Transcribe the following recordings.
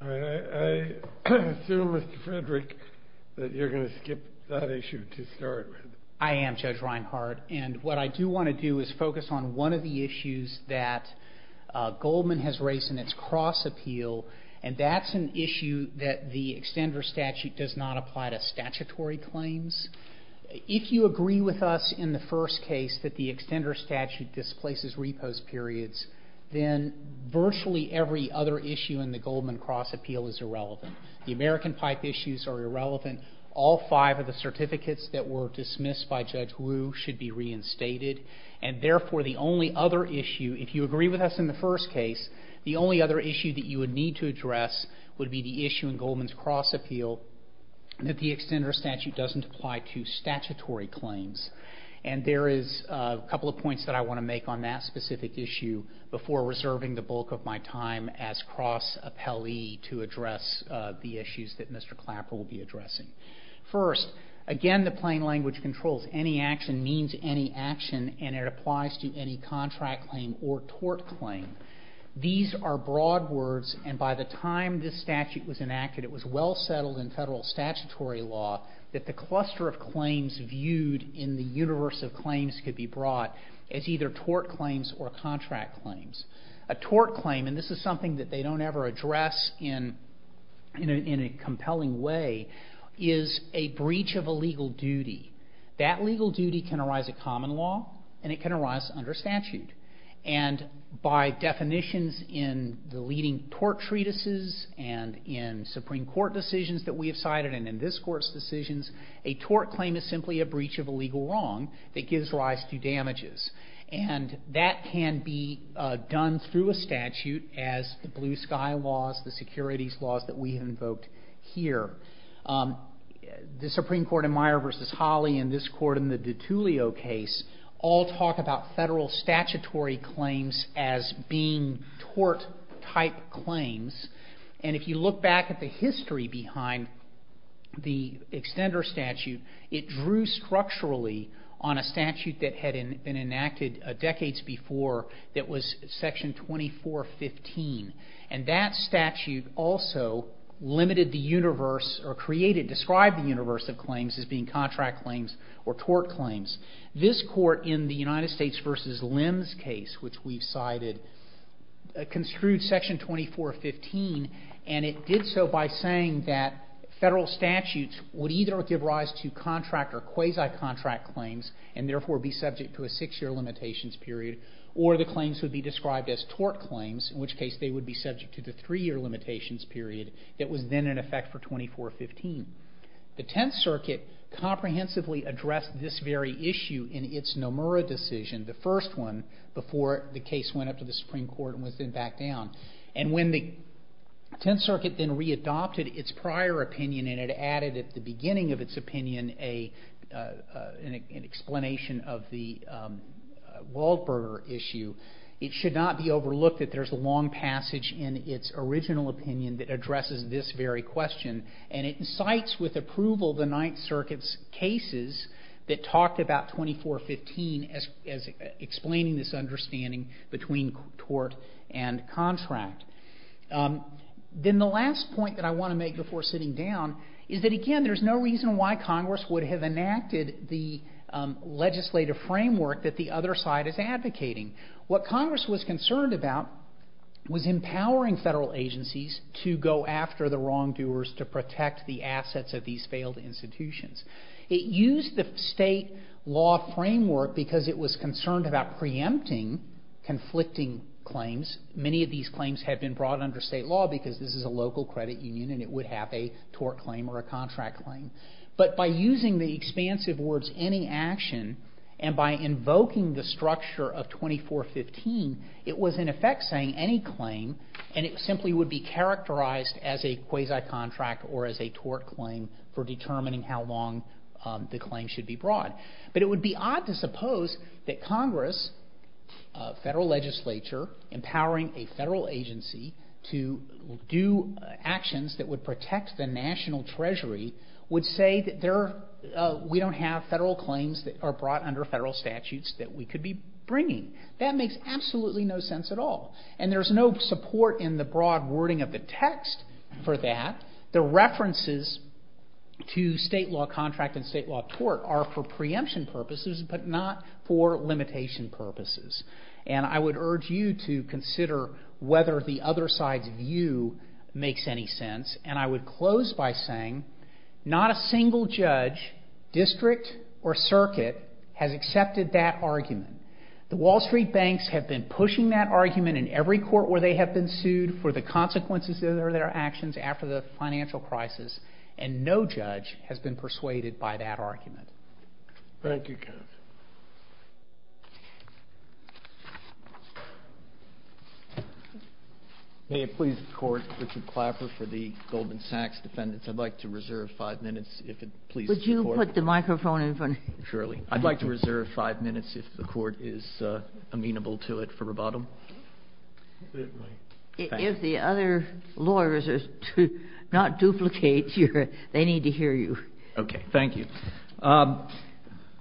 I assume, Mr. Frederick, that you're going to skip that issue to start with. I am, Judge Reinhard, and what I do want to do is focus on one of the issues that Goldman has raised in its cross-appeal, and that's an issue that the extender statute does not apply to statutory claims. If you agree with us in the first case that the extender statute displaces repost periods, then virtually every other issue in the Goldman cross-appeal is irrelevant. The American pipe issues are irrelevant. All five of the certificates that were dismissed by Judge Wu should be reinstated, and therefore the only other issue, if you agree with us in the first case, the only other issue that you would need to address would be the issue in Goldman's cross-appeal that the extender statute doesn't apply to statutory claims. And there is a couple of points that I want to make on that specific issue before reserving the bulk of my time as cross-appellee to address the issues that Mr. Clapper will be addressing. First, again, the plain language controls. Any action means any action, and it applies to any contract claim or tort claim. These are broad words, and by the time this statute was enacted, it was well settled in federal statutory law that the cluster of claims viewed in the universe of claims could be brought as either tort claims or contract claims. A tort claim, and this is something that they don't ever address in a compelling way, is a breach of a legal duty. That legal duty can arise at common law, and it can arise under statute. And by definitions in the leading tort treatises and in Supreme Court decisions that we have cited and in this Court's decisions, a tort claim is simply a breach of a legal wrong that gives rise to damages. And that can be done through a statute as the blue sky laws, the securities laws that we have invoked here. The Supreme Court in Meyer v. Hawley and this Court in the DiTullio case all talk about federal statutory claims as being tort-type claims. And if you look back at the history behind the extender statute, it drew structurally on a statute that had been enacted decades before that was Section 2415. And that statute also limited the universe or created, described the universe of claims as being contract claims or tort claims. This Court in the United States v. Lims case, which we've cited, construed Section 2415, and it did so by saying that federal statutes would either give rise to contract or quasi-contract claims and therefore be subject to a six-year limitations period, or the claims would be described as tort claims, in which case they would be subject to the three-year limitations period that was then in effect for 2415. The Tenth Circuit comprehensively addressed this very issue in its Nomura decision, the first one, before the case went up to the Supreme Court and was then backed down. And when the Tenth Circuit then re-adopted its prior opinion and it added at the beginning of its opinion an explanation of the Waldberger issue, it should not be overlooked that there's a long passage in its original opinion that addresses this very question. And it incites with approval the Ninth Circuit's cases that talked about 2415 as explaining this understanding between tort and contract. Then the last point that I want to make before sitting down is that, again, there's no reason why Congress would have enacted the legislative framework that the other side is advocating. What Congress was concerned about was empowering federal agencies to go after the wrongdoers to protect the assets of these failed institutions. It used the state law framework because it was concerned about preempting conflicting claims. Many of these claims had been brought under state law because this is a local credit union and it would have a tort claim or a contract claim. But by using the expansive words any action and by invoking the structure of 2415, it was in effect saying any claim and it simply would be characterized as a quasi-contract or as a tort claim for determining how long the claim should be brought. But it would be odd to suppose that Congress, federal legislature, empowering a federal agency to do actions that would protect the national treasury would say that we don't have federal claims that are brought under federal statutes that we could be bringing. That makes absolutely no sense at all. And there's no support in the broad wording of the text for that. The references to state law contract and state law tort are for preemption purposes but not for limitation purposes. And I would urge you to consider whether the other side's view makes any sense. And I would close by saying not a single judge, district, or circuit has accepted that argument. The Wall Street banks have been pushing that argument in every court where they have been sued for the consequences of their actions after the financial crisis and no judge has been persuaded by that argument. Thank you, counsel. May it please the court, Richard Clapper for the Goldman Sachs defendants. I'd like to reserve five minutes if it pleases the court. Would you put the microphone in front? Surely. I'd like to reserve five minutes if the court is amenable to it for rebuttal. If the other lawyers are not duplicates, they need to hear you. Okay. Thank you.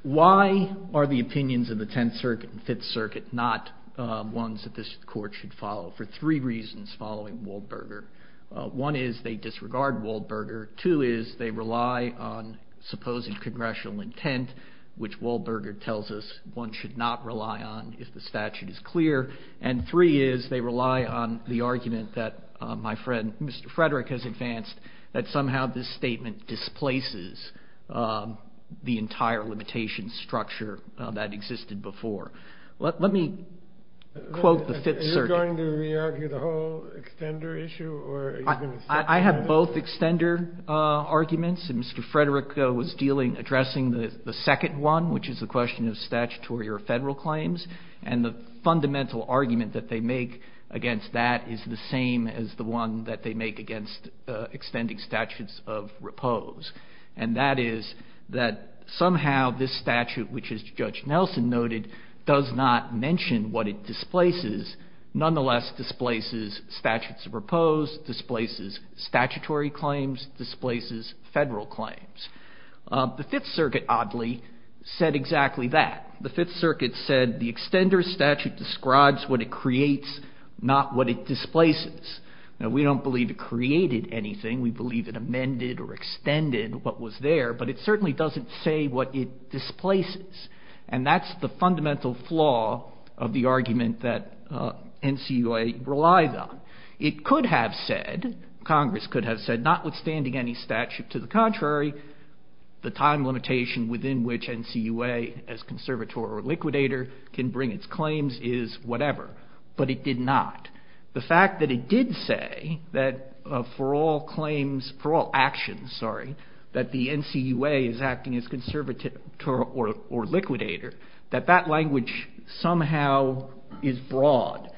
Why are the opinions of the Tenth Circuit and Fifth Circuit not ones that this court should follow for three reasons following Waldberger. One is they disregard Waldberger. Two is they rely on supposed congressional intent, which Waldberger tells us one should not rely on if the statute is clear. And three is they rely on the argument that my friend Mr. Frederick has advanced that somehow this statement displaces the entire limitation structure that existed before. Let me quote the Fifth Circuit. Are you going to re-argue the whole extender issue? I have both extender arguments. Mr. Frederick was addressing the second one, which is the question of statutory or federal claims, and the fundamental argument that they make against that is the same as the one that they make against extending statutes of repose. And that is that somehow this statute, which as Judge Nelson noted, does not mention what it displaces, nonetheless displaces statutes of repose, displaces statutory claims, displaces federal claims. The Fifth Circuit, oddly, said exactly that. The Fifth Circuit said the extender statute describes what it creates, not what it displaces. Now we don't believe it created anything. We believe it amended or extended what was there, but it certainly doesn't say what it displaces, and that's the fundamental flaw of the argument that NCUA relies on. It could have said, Congress could have said, notwithstanding any statute to the contrary, the time limitation within which NCUA as conservator or liquidator can bring its claims is whatever, but it did not. The fact that it did say that for all claims, for all actions, sorry, that the NCUA is acting as conservator or liquidator, that that language somehow is broad.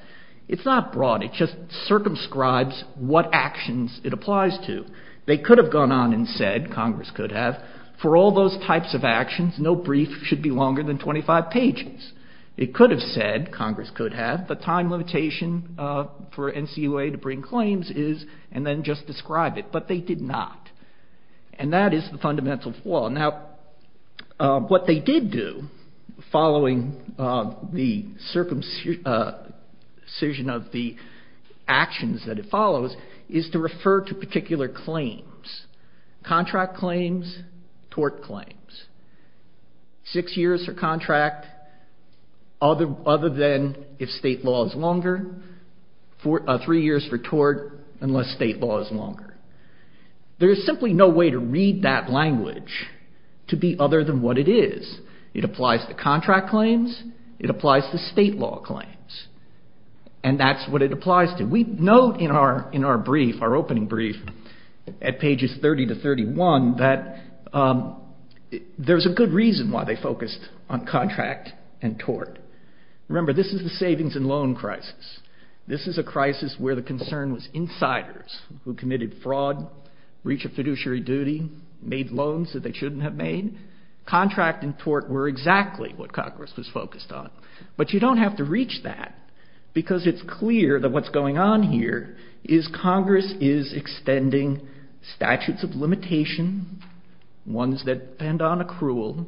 It's not broad. It just circumscribes what actions it applies to. They could have gone on and said, Congress could have, for all those types of actions, no brief should be longer than 25 pages. It could have said, Congress could have, the time limitation for NCUA to bring claims is, and then just describe it, but they did not, and that is the fundamental flaw. Now what they did do, following the circumcision of the actions that it follows, is to refer to particular claims, contract claims, tort claims. Six years for contract other than if state law is longer. Three years for tort unless state law is longer. There is simply no way to read that language to be other than what it is. It applies to contract claims. It applies to state law claims, and that's what it applies to. We note in our brief, our opening brief, at pages 30 to 31, that there's a good reason why they focused on contract and tort. Remember, this is the savings and loan crisis. This is a crisis where the concern was insiders who committed fraud, reached a fiduciary duty, made loans that they shouldn't have made. Contract and tort were exactly what Congress was focused on, but you don't have to reach that because it's clear that what's going on here is Congress is extending statutes of limitation, ones that depend on accrual,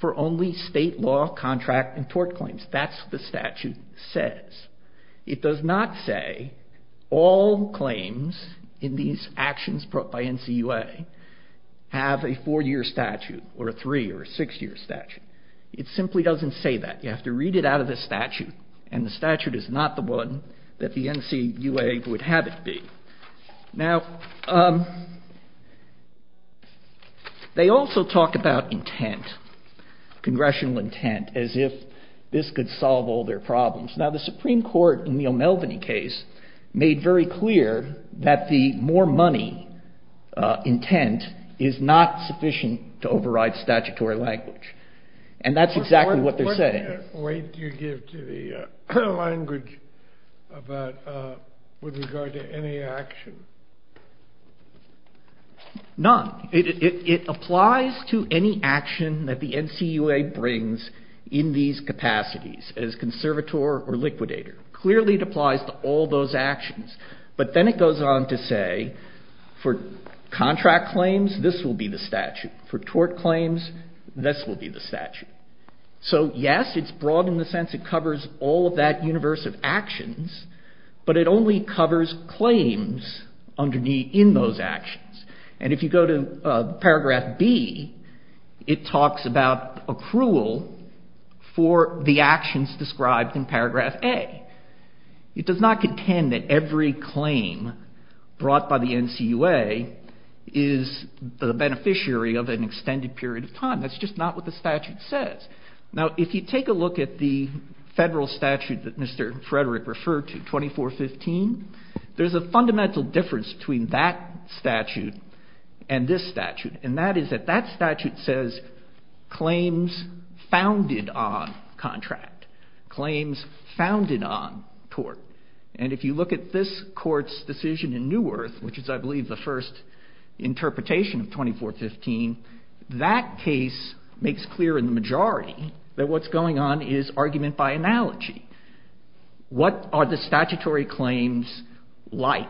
for only state law, contract, and tort claims. That's what the statute says. It does not say all claims in these actions brought by NCUA have a four-year statute or a three-year or a six-year statute. It simply doesn't say that. You have to read it out of the statute, and the statute is not the one that the NCUA would have it be. Now, they also talk about intent, congressional intent, as if this could solve all their problems. Now, the Supreme Court in the O'Melveny case made very clear that the more money intent is not sufficient to override statutory language, and that's exactly what they're saying. What weight do you give to the language with regard to any action? None. It applies to any action that the NCUA brings in these capacities, as conservator or liquidator. Clearly it applies to all those actions, but then it goes on to say for contract claims, this will be the statute. For tort claims, this will be the statute. So, yes, it's broad in the sense it covers all of that universe of actions, but it only covers claims in those actions. And if you go to Paragraph B, it talks about accrual for the actions described in Paragraph A. It does not contend that every claim brought by the NCUA is the beneficiary of an extended period of time. That's just not what the statute says. Now, if you take a look at the federal statute that Mr. Frederick referred to, 2415, there's a fundamental difference between that statute and this statute, and that is that that statute says claims founded on contract, claims founded on tort. And if you look at this court's decision in New Earth, which is, I believe, the first interpretation of 2415, that case makes clear in the majority that what's going on is argument by analogy. What are the statutory claims like?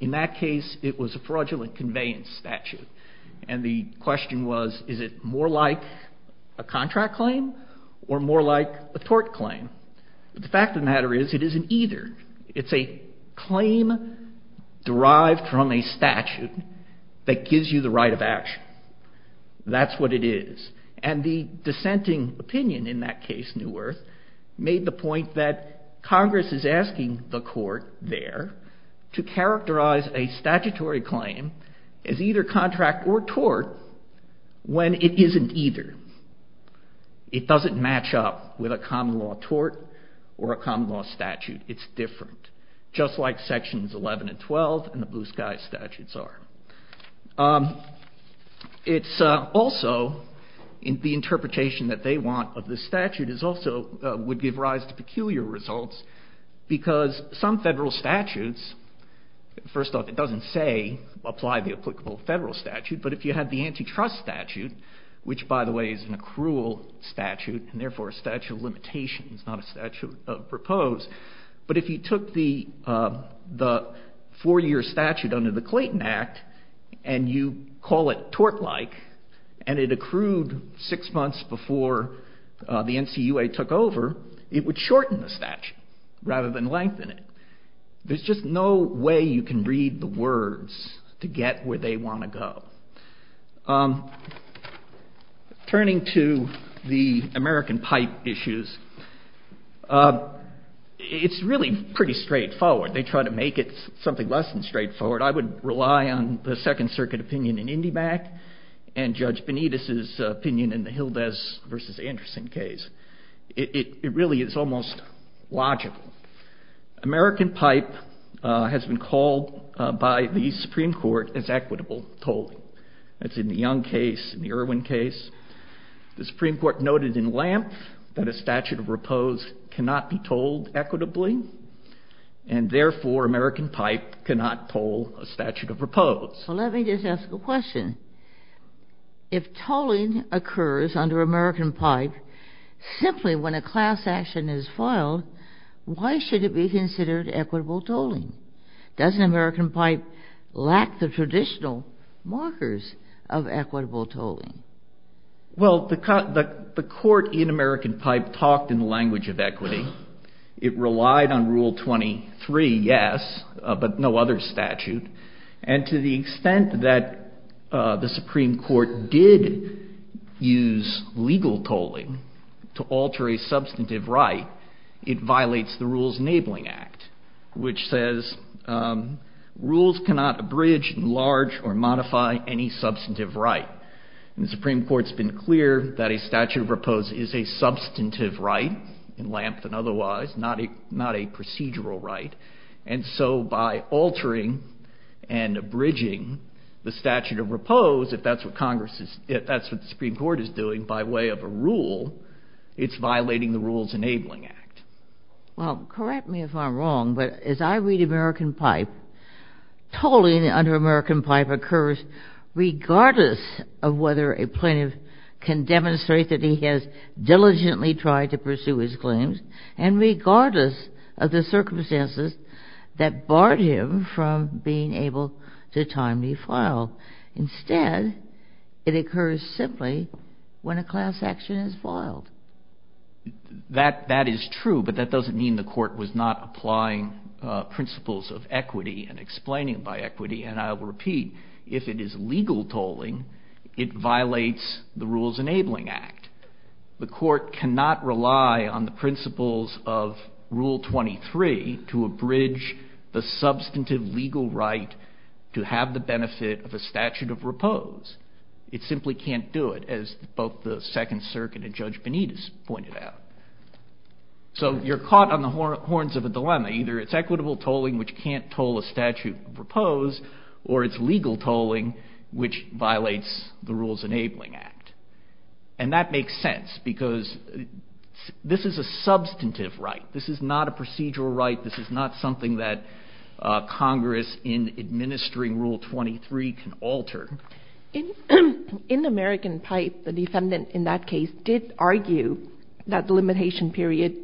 In that case, it was a fraudulent conveyance statute, and the question was, is it more like a contract claim or more like a tort claim? But the fact of the matter is it isn't either. It's a claim derived from a statute that gives you the right of action. That's what it is. And the dissenting opinion in that case, New Earth, made the point that Congress is asking the court there to characterize a statutory claim as either contract or tort when it isn't either. It doesn't match up with a common law tort or a common law statute. It's different, just like Sections 11 and 12 and the Blue Skies statutes are. Also, the interpretation that they want of this statute would give rise to peculiar results, because some federal statutes, first off, it doesn't say apply the applicable federal statute, but if you had the antitrust statute, which, by the way, is an accrual statute, and therefore a statute of limitations, not a statute of propose, but if you took the four-year statute under the Clayton Act and you call it tort-like, and it accrued six months before the NCUA took over, it would shorten the statute rather than lengthen it. There's just no way you can read the words to get where they want to go. Turning to the American pipe issues, it's really pretty straightforward. They try to make it something less than straightforward. I would rely on the Second Circuit opinion in Indyback and Judge Benitez's opinion in the Hildes v. Anderson case. It really is almost logical. American pipe has been called by the Supreme Court as equitable tolling. That's in the Young case, in the Irwin case. The Supreme Court noted in Lampf that a statute of repose cannot be tolled equitably, and therefore American pipe cannot toll a statute of repose. Let me just ask a question. If tolling occurs under American pipe, simply when a class action is filed, why should it be considered equitable tolling? Doesn't American pipe lack the traditional markers of equitable tolling? Well, the court in American pipe talked in the language of equity. It relied on Rule 23, yes, but no other statute. And to the extent that the Supreme Court did use legal tolling to alter a substantive right, it violates the Rules Enabling Act, which says rules cannot abridge, enlarge, or modify any substantive right. And the Supreme Court's been clear that a statute of repose is a substantive right in Lampf and otherwise, not a procedural right. And so by altering and abridging the statute of repose, if that's what the Supreme Court is doing by way of a rule, it's violating the Rules Enabling Act. Well, correct me if I'm wrong, but as I read American pipe, tolling under American pipe occurs regardless of whether a plaintiff can demonstrate that he has diligently tried to pursue his claims and regardless of the circumstances that barred him from being able to timely file. Instead, it occurs simply when a class action is foiled. That is true, but that doesn't mean the court was not applying principles of equity and explaining by equity, and I'll repeat, if it is legal tolling, it violates the Rules Enabling Act. The court cannot rely on the principles of Rule 23 to abridge the substantive legal right to have the benefit of a statute of repose. It simply can't do it, as both the Second Circuit and Judge Benitez pointed out. So you're caught on the horns of a dilemma. Either it's equitable tolling, which can't toll a statute of repose, or it's legal tolling, which violates the Rules Enabling Act. And that makes sense because this is a substantive right. This is not a procedural right. This is not something that Congress, in administering Rule 23, can alter. In American Pipe, the defendant in that case did argue that the limitation period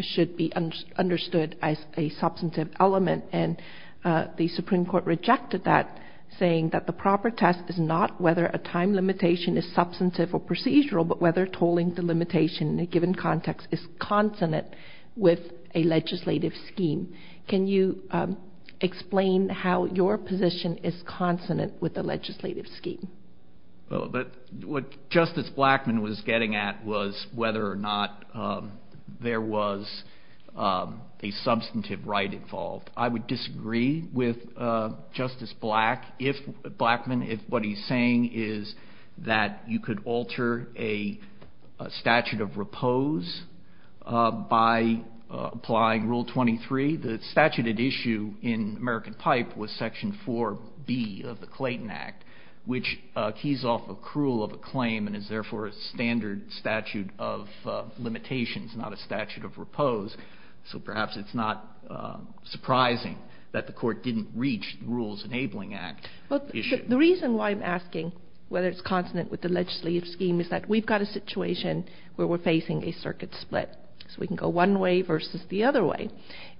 should be understood as a substantive element, and the Supreme Court rejected that, saying that the proper test is not whether a time limitation is substantive or procedural, but whether tolling the limitation in a given context is consonant with a legislative scheme. Can you explain how your position is consonant with the legislative scheme? What Justice Blackmun was getting at was whether or not there was a substantive right involved. I would disagree with Justice Blackmun if what he's saying is that you could alter a statute of repose by applying Rule 23. The statute at issue in American Pipe was Section 4B of the Clayton Act, which keys off accrual of a claim and is therefore a standard statute of limitations, not a statute of repose. So perhaps it's not surprising that the Court didn't reach the Rules Enabling Act issue. The reason why I'm asking whether it's consonant with the legislative scheme is that we've got a situation where we're facing a circuit split. So we can go one way versus the other way.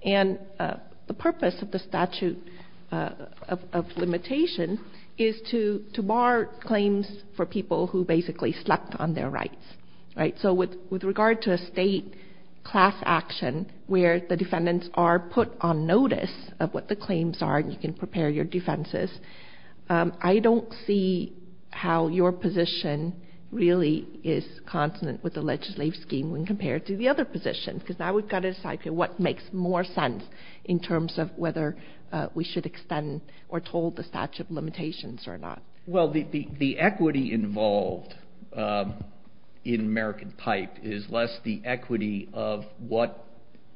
And the purpose of the statute of limitation is to bar claims for people who basically slept on their rights. So with regard to a state class action where the defendants are put on notice of what the claims are and you can prepare your defenses, I don't see how your position really is consonant with the legislative scheme when compared to the other positions, because now we've got to decide what makes more sense in terms of whether we should extend or toll the statute of limitations or not. Well, the equity involved in American Pipe is less the equity of what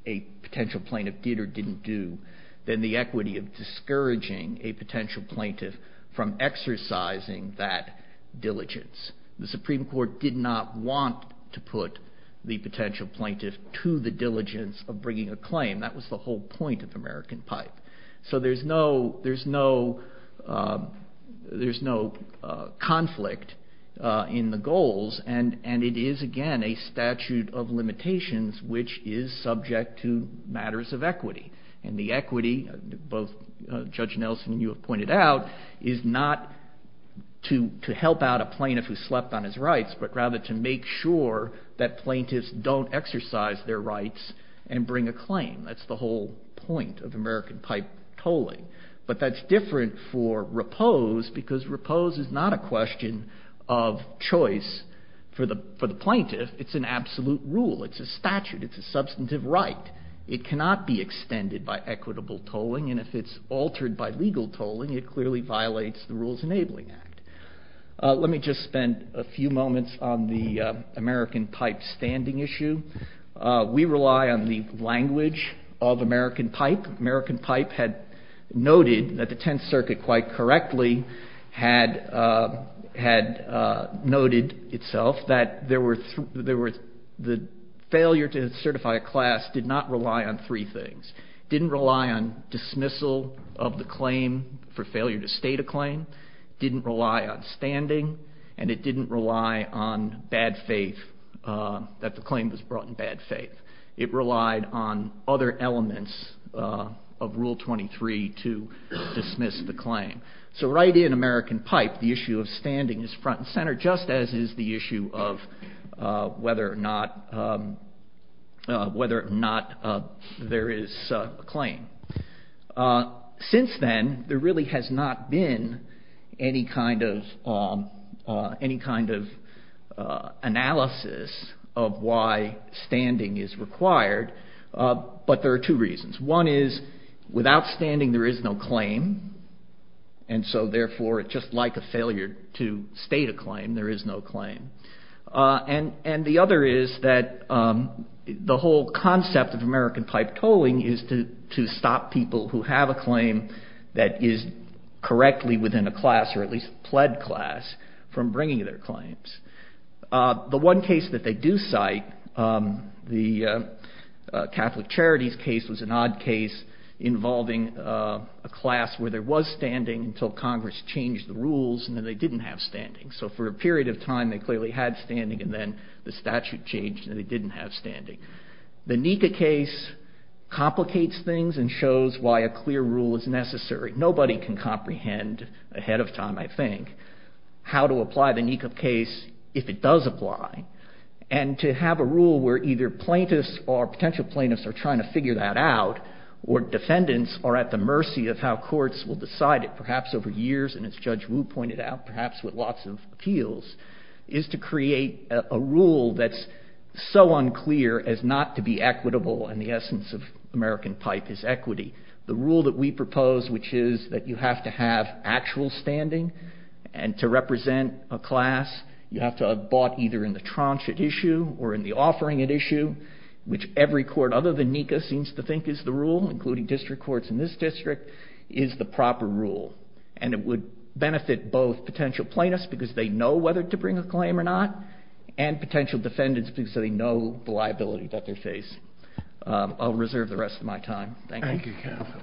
a potential plaintiff did or didn't do than the equity of discouraging a potential plaintiff from exercising that diligence. The Supreme Court did not want to put the potential plaintiff to the diligence of bringing a claim. That was the whole point of American Pipe. So there's no conflict in the goals. And it is, again, a statute of limitations which is subject to matters of equity. And the equity, both Judge Nelson and you have pointed out, is not to help out a plaintiff who slept on his rights, but rather to make sure that plaintiffs don't exercise their rights and bring a claim. That's the whole point of American Pipe tolling. But that's different for Repose because Repose is not a question of choice for the plaintiff. It's an absolute rule. It's a statute. It's a substantive right. It cannot be extended by equitable tolling, and if it's altered by legal tolling, it clearly violates the Rules Enabling Act. Let me just spend a few moments on the American Pipe standing issue. We rely on the language of American Pipe. American Pipe had noted that the Tenth Circuit, quite correctly, had noted itself that the failure to certify a class did not rely on three things. It didn't rely on dismissal of the claim for failure to state a claim, didn't rely on standing, and it didn't rely on bad faith, that the claim was brought in bad faith. It relied on other elements of Rule 23 to dismiss the claim. So right in American Pipe, the issue of standing is front and center, just as is the issue of whether or not there is a claim. Since then, there really has not been any kind of analysis of why standing is required, but there are two reasons. One is, without standing, there is no claim, and so, therefore, just like a failure to state a claim, there is no claim. And the other is that the whole concept of American Pipe tolling is to stop people who have a claim that is correctly within a class, or at least a pled class, from bringing their claims. The one case that they do cite, the Catholic Charities case, was an odd case involving a class where there was standing until Congress changed the rules and then they didn't have standing. So for a period of time, they clearly had standing, and then the statute changed and they didn't have standing. The NECA case complicates things and shows why a clear rule is necessary. Nobody can comprehend ahead of time, I think, how to apply the NECA case if it does apply, and to have a rule where either plaintiffs or potential plaintiffs are trying to figure that out, or defendants are at the mercy of how courts will decide it, perhaps with lots of appeals, is to create a rule that's so unclear as not to be equitable in the essence of American Pipe is equity. The rule that we propose, which is that you have to have actual standing and to represent a class, you have to have bought either in the tranche at issue or in the offering at issue, which every court other than NECA seems to think is the rule, including district courts in this district, is the proper rule. And it would benefit both potential plaintiffs, because they know whether to bring a claim or not, and potential defendants, because they know the liability that they face. I'll reserve the rest of my time. Thank you. Thank you, Kevin.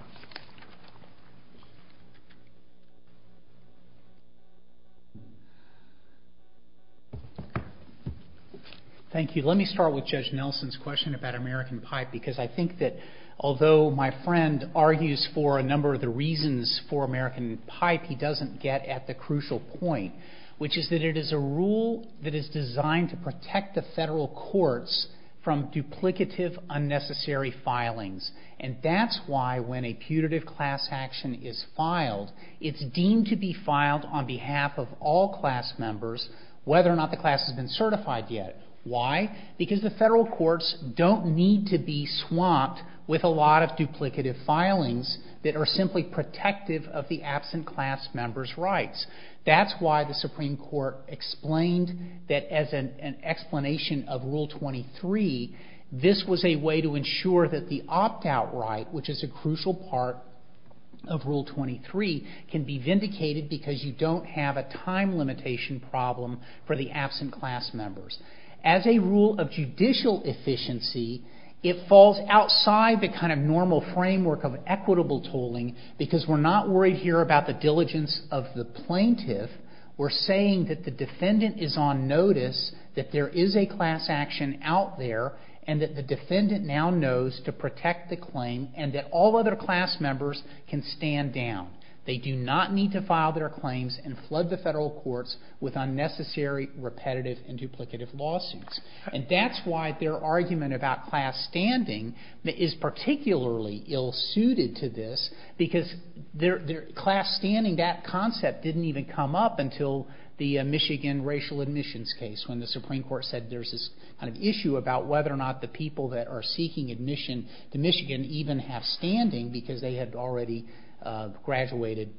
Thank you. Let me start with Judge Nelson's question about American Pipe, because I think that although my friend argues for a number of the reasons for American Pipe, he doesn't get at the crucial point, which is that it is a rule that is designed to protect the federal courts from duplicative, unnecessary filings. And that's why when a putative class action is filed, it's deemed to be filed on behalf of all class members, whether or not the class has been certified yet. Why? Because the federal courts don't need to be swamped with a lot of duplicative filings that are simply protective of the absent class member's rights. That's why the Supreme Court explained that as an explanation of Rule 23, this was a way to ensure that the opt-out right, which is a crucial part of Rule 23, can be vindicated because you don't have a time limitation problem for the absent class members. As a rule of judicial efficiency, it falls outside the kind of normal framework of equitable tolling because we're not worried here about the diligence of the plaintiff. We're saying that the defendant is on notice that there is a class action out there and that the defendant now knows to protect the claim and that all other class members can stand down. They do not need to file their claims and flood the federal courts with unnecessary, repetitive, and duplicative lawsuits. That's why their argument about class standing is particularly ill-suited to this because class standing, that concept didn't even come up until the Michigan racial admissions case when the Supreme Court said there's this kind of issue about whether or not the people that are seeking admission to Michigan even have standing because they had already graduated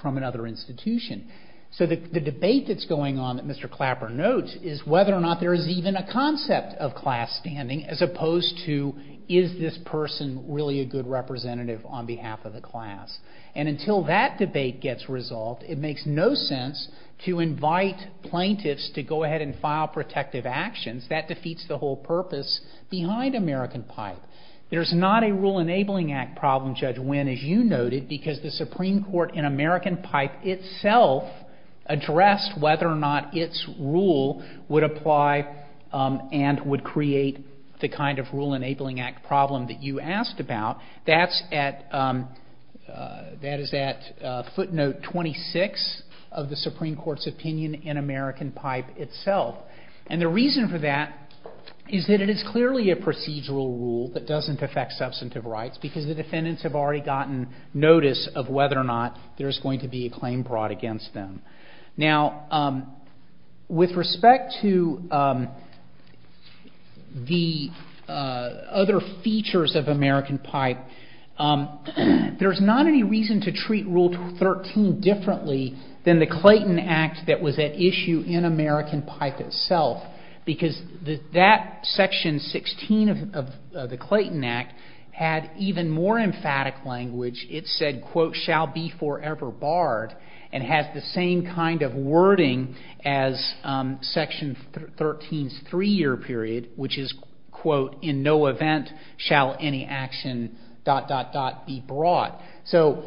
from another institution. So the debate that's going on that Mr. Clapper notes is whether or not there is even a concept of class standing as opposed to is this person really a good representative on behalf of the class. And until that debate gets resolved, it makes no sense to invite plaintiffs to go ahead and file protective actions. That defeats the whole purpose behind American Pipe. There's not a Rule Enabling Act problem, Judge Winn, as you noted, because the Supreme Court in American Pipe itself addressed whether or not its rule would apply and would create the kind of Rule Enabling Act problem that you asked about. That is at footnote 26 of the Supreme Court's opinion in American Pipe itself. And the reason for that is that it is clearly a procedural rule that doesn't affect substantive rights because the defendants have already gotten notice of whether or not there is going to be a claim brought against them. Now, with respect to the other features of American Pipe, there's not any reason to treat Rule 13 differently than the Clayton Act that was at issue in American Pipe itself because that section 16 of the Clayton Act had even more emphatic language. It said, quote, shall be forever barred and has the same kind of wording as section 13's three-year period, which is, quote, in no event shall any action dot dot dot be brought. So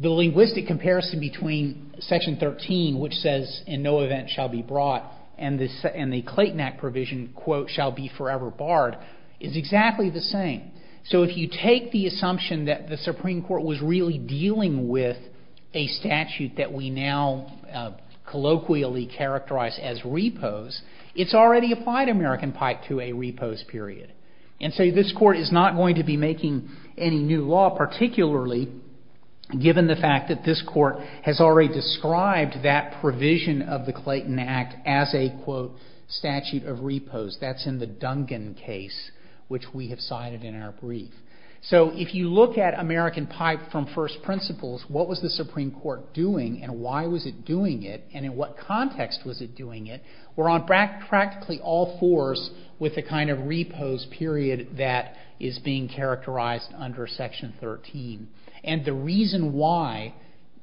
the linguistic comparison between section 13, which says in no event shall be brought, and the Clayton Act provision, quote, shall be forever barred is exactly the same. So if you take the assumption that the Supreme Court was really dealing with a statute that we now colloquially characterize as repose, it's already applied American Pipe to a repose period. And so this Court is not going to be making any new law, particularly given the fact that this Court has already described that provision of the Clayton Act as a, quote, statute of repose. That's in the Duncan case, which we have cited in our brief. So if you look at American Pipe from first principles, what was the Supreme Court doing and why was it doing it and in what context was it doing it, we're on practically all fours with the kind of repose period that is being characterized under section 13. And the reason why,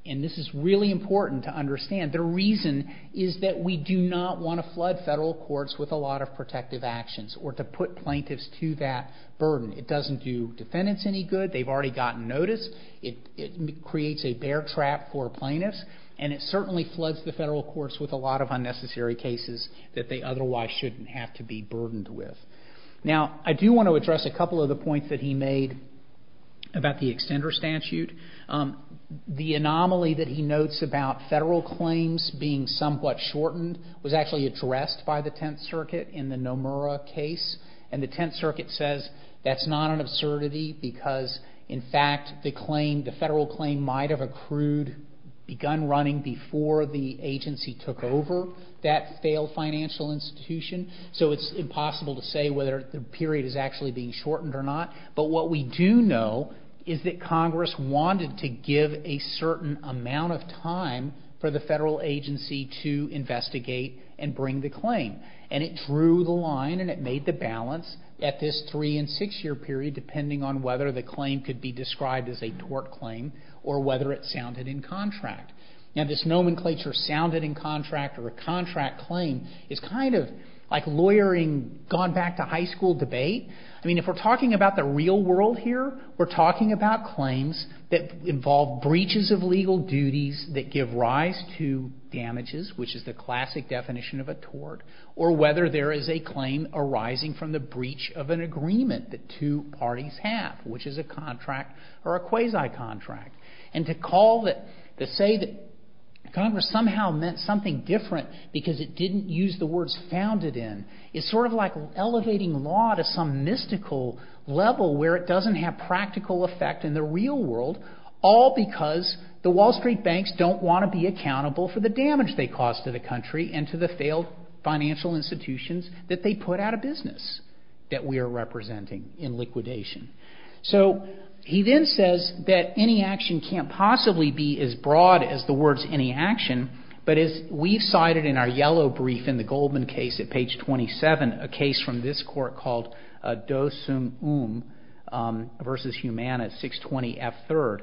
and this is really important to understand, the reason is that we do not want to flood federal courts with a lot of protective actions or to put plaintiffs to that burden. It doesn't do defendants any good. They've already gotten notice. It creates a bear trap for plaintiffs, and it certainly floods the federal courts with a lot of unnecessary cases that they otherwise shouldn't have to be burdened with. Now, I do want to address a couple of the points that he made about the extender statute. The anomaly that he notes about federal claims being somewhat shortened was actually addressed by the Tenth Circuit in the Nomura case, and the Tenth Circuit says that's not an absurdity because, in fact, the claim, the federal claim might have accrued, begun running before the agency took over that failed financial institution, so it's impossible to say whether the period is actually being shortened or not. But what we do know is that Congress wanted to give a certain amount of time for the federal agency to investigate and bring the claim, and it drew the line and it made the balance at this three- and six-year period depending on whether the claim could be described as a tort claim or whether it sounded in contract. Now, this nomenclature, sounded in contract or a contract claim, is kind of like lawyering gone back to high school debate. I mean, if we're talking about the real world here, we're talking about claims that involve breaches of legal duties that give rise to damages, which is the classic definition of a tort, or whether there is a claim arising from the breach of an agreement that two parties have, which is a contract or a quasi-contract. And to call it, to say that Congress somehow meant something different because it didn't use the words founded in is sort of like elevating law to some mystical level where it doesn't have practical effect in the real world, all because the Wall Street banks don't want to be accountable for the damage they cause to the country and to the failed financial institutions that they put out of business that we are representing in liquidation. So, he then says that any action can't possibly be as broad as the words any action, but as we've cited in our yellow brief in the Goldman case at page 27, a case from this court called Dosum Um versus Humana, 620 F3rd.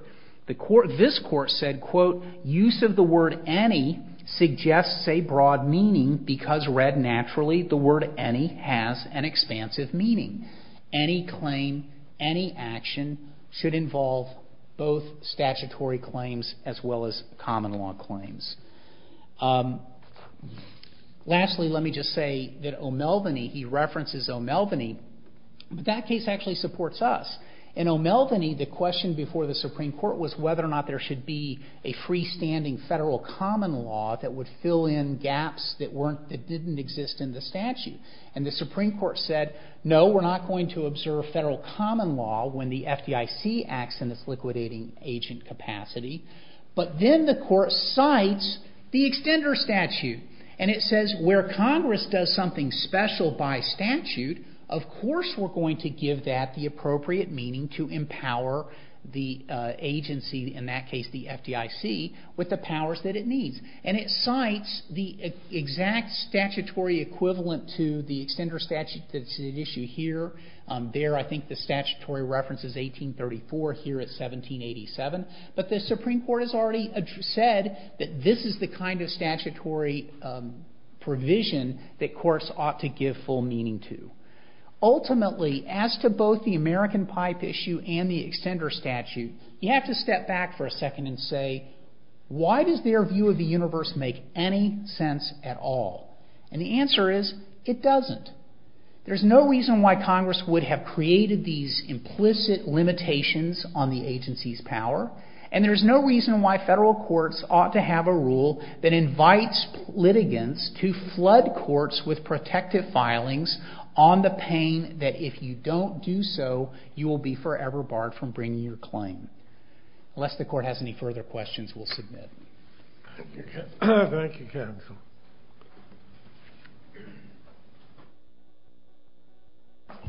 This court said, quote, use of the word any suggests a broad meaning because read naturally, the word any has an expansive meaning. Any claim, any action, should involve both statutory claims as well as common law claims. Lastly, let me just say that O'Melveny, he references O'Melveny, but that case actually supports us. In O'Melveny, the question before the Supreme Court was whether or not there should be a freestanding federal common law that would fill in gaps that didn't exist in the statute. And the Supreme Court said, no, we're not going to observe federal common law when the FDIC acts in its liquidating agent capacity. But then the court cites the extender statute. And it says where Congress does something special by statute, of course we're going to give that the appropriate meaning to empower the agency, in that case the FDIC, with the powers that it needs. And it cites the exact statutory equivalent to the extender statute that's at issue here. There I think the statutory reference is 1834. Here it's 1787. But the Supreme Court has already said that this is the kind of statutory provision that courts ought to give full meaning to. Ultimately, as to both the American pipe issue and the extender statute, you have to step back for a second and say, why does their view of the universe make any sense at all? And the answer is, it doesn't. There's no reason why Congress would have created these implicit limitations on the agency's power. And there's no reason why federal courts ought to have a rule that invites litigants to flood courts with protective filings on the pain that if you don't do so, you will be forever barred from bringing your claim. Unless the court has any further questions, we'll submit. Thank you, counsel.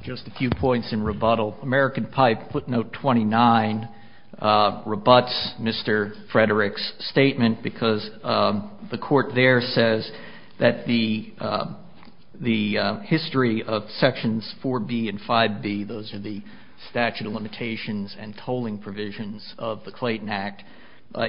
Just a few points in rebuttal. American pipe footnote 29 rebuts Mr. Frederick's statement because the court there says that the history of sections 4B and 5B, those are the statute of limitations and tolling provisions of the Clayton Act,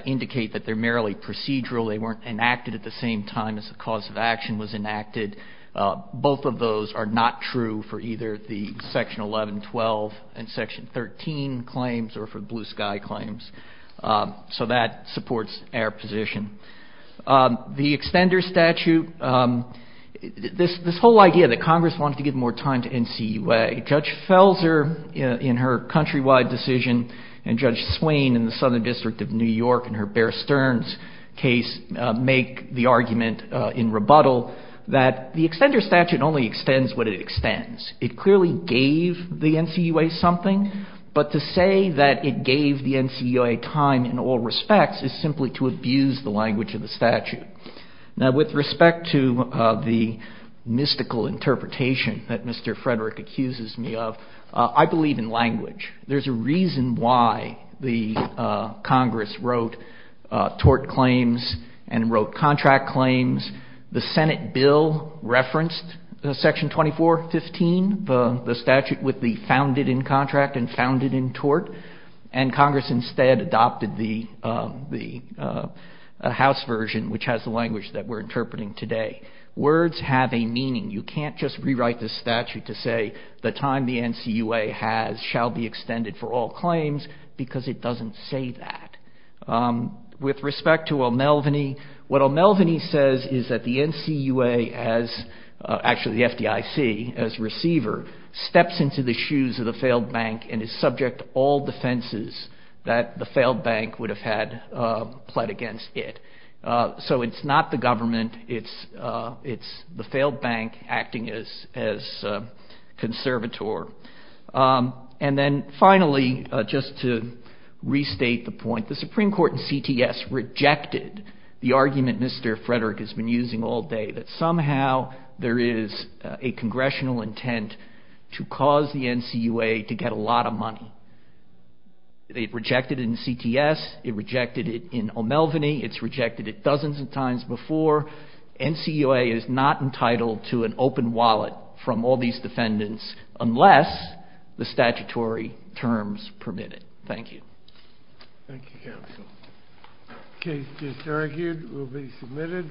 indicate that they're merely procedural. They weren't enacted at the same time as the cause of action was enacted. Both of those are not true for either the Section 1112 and Section 13 claims or for Blue Sky claims. So that supports our position. The extender statute, this whole idea that Congress wanted to give more time to NCUA, Judge Felser in her countrywide decision and Judge Swain in the Southern District of New York in her Bear Stearns case make the argument in rebuttal that the extender statute only extends what it extends. It clearly gave the NCUA something, but to say that it gave the NCUA time in all respects is simply to abuse the language of the statute. Now, with respect to the mystical interpretation that Mr. Frederick accuses me of, I believe in language. There's a reason why the Congress wrote tort claims and wrote contract claims. The Senate bill referenced Section 2415, the statute with the founded in contract and founded in tort, and Congress instead adopted the House version, which has the language that we're interpreting today. Words have a meaning. You can't just rewrite the statute to say the time the NCUA has shall be extended for all claims because it doesn't say that. With respect to O'Melveny, what O'Melveny says is that the NCUA, actually the FDIC as receiver, steps into the shoes of the failed bank and is subject to all defenses that the failed bank would have had pled against it. So it's not the government. It's the failed bank acting as conservator. And then finally, just to restate the point, the Supreme Court in CTS rejected the argument Mr. Frederick has been using all day that somehow there is a congressional intent to cause the NCUA to get a lot of money. It rejected it in CTS. It rejected it in O'Melveny. It's rejected it dozens of times before. NCUA is not entitled to an open wallet from all these defendants unless the statutory terms permit it. Thank you. Thank you, counsel. The case just argued will be submitted.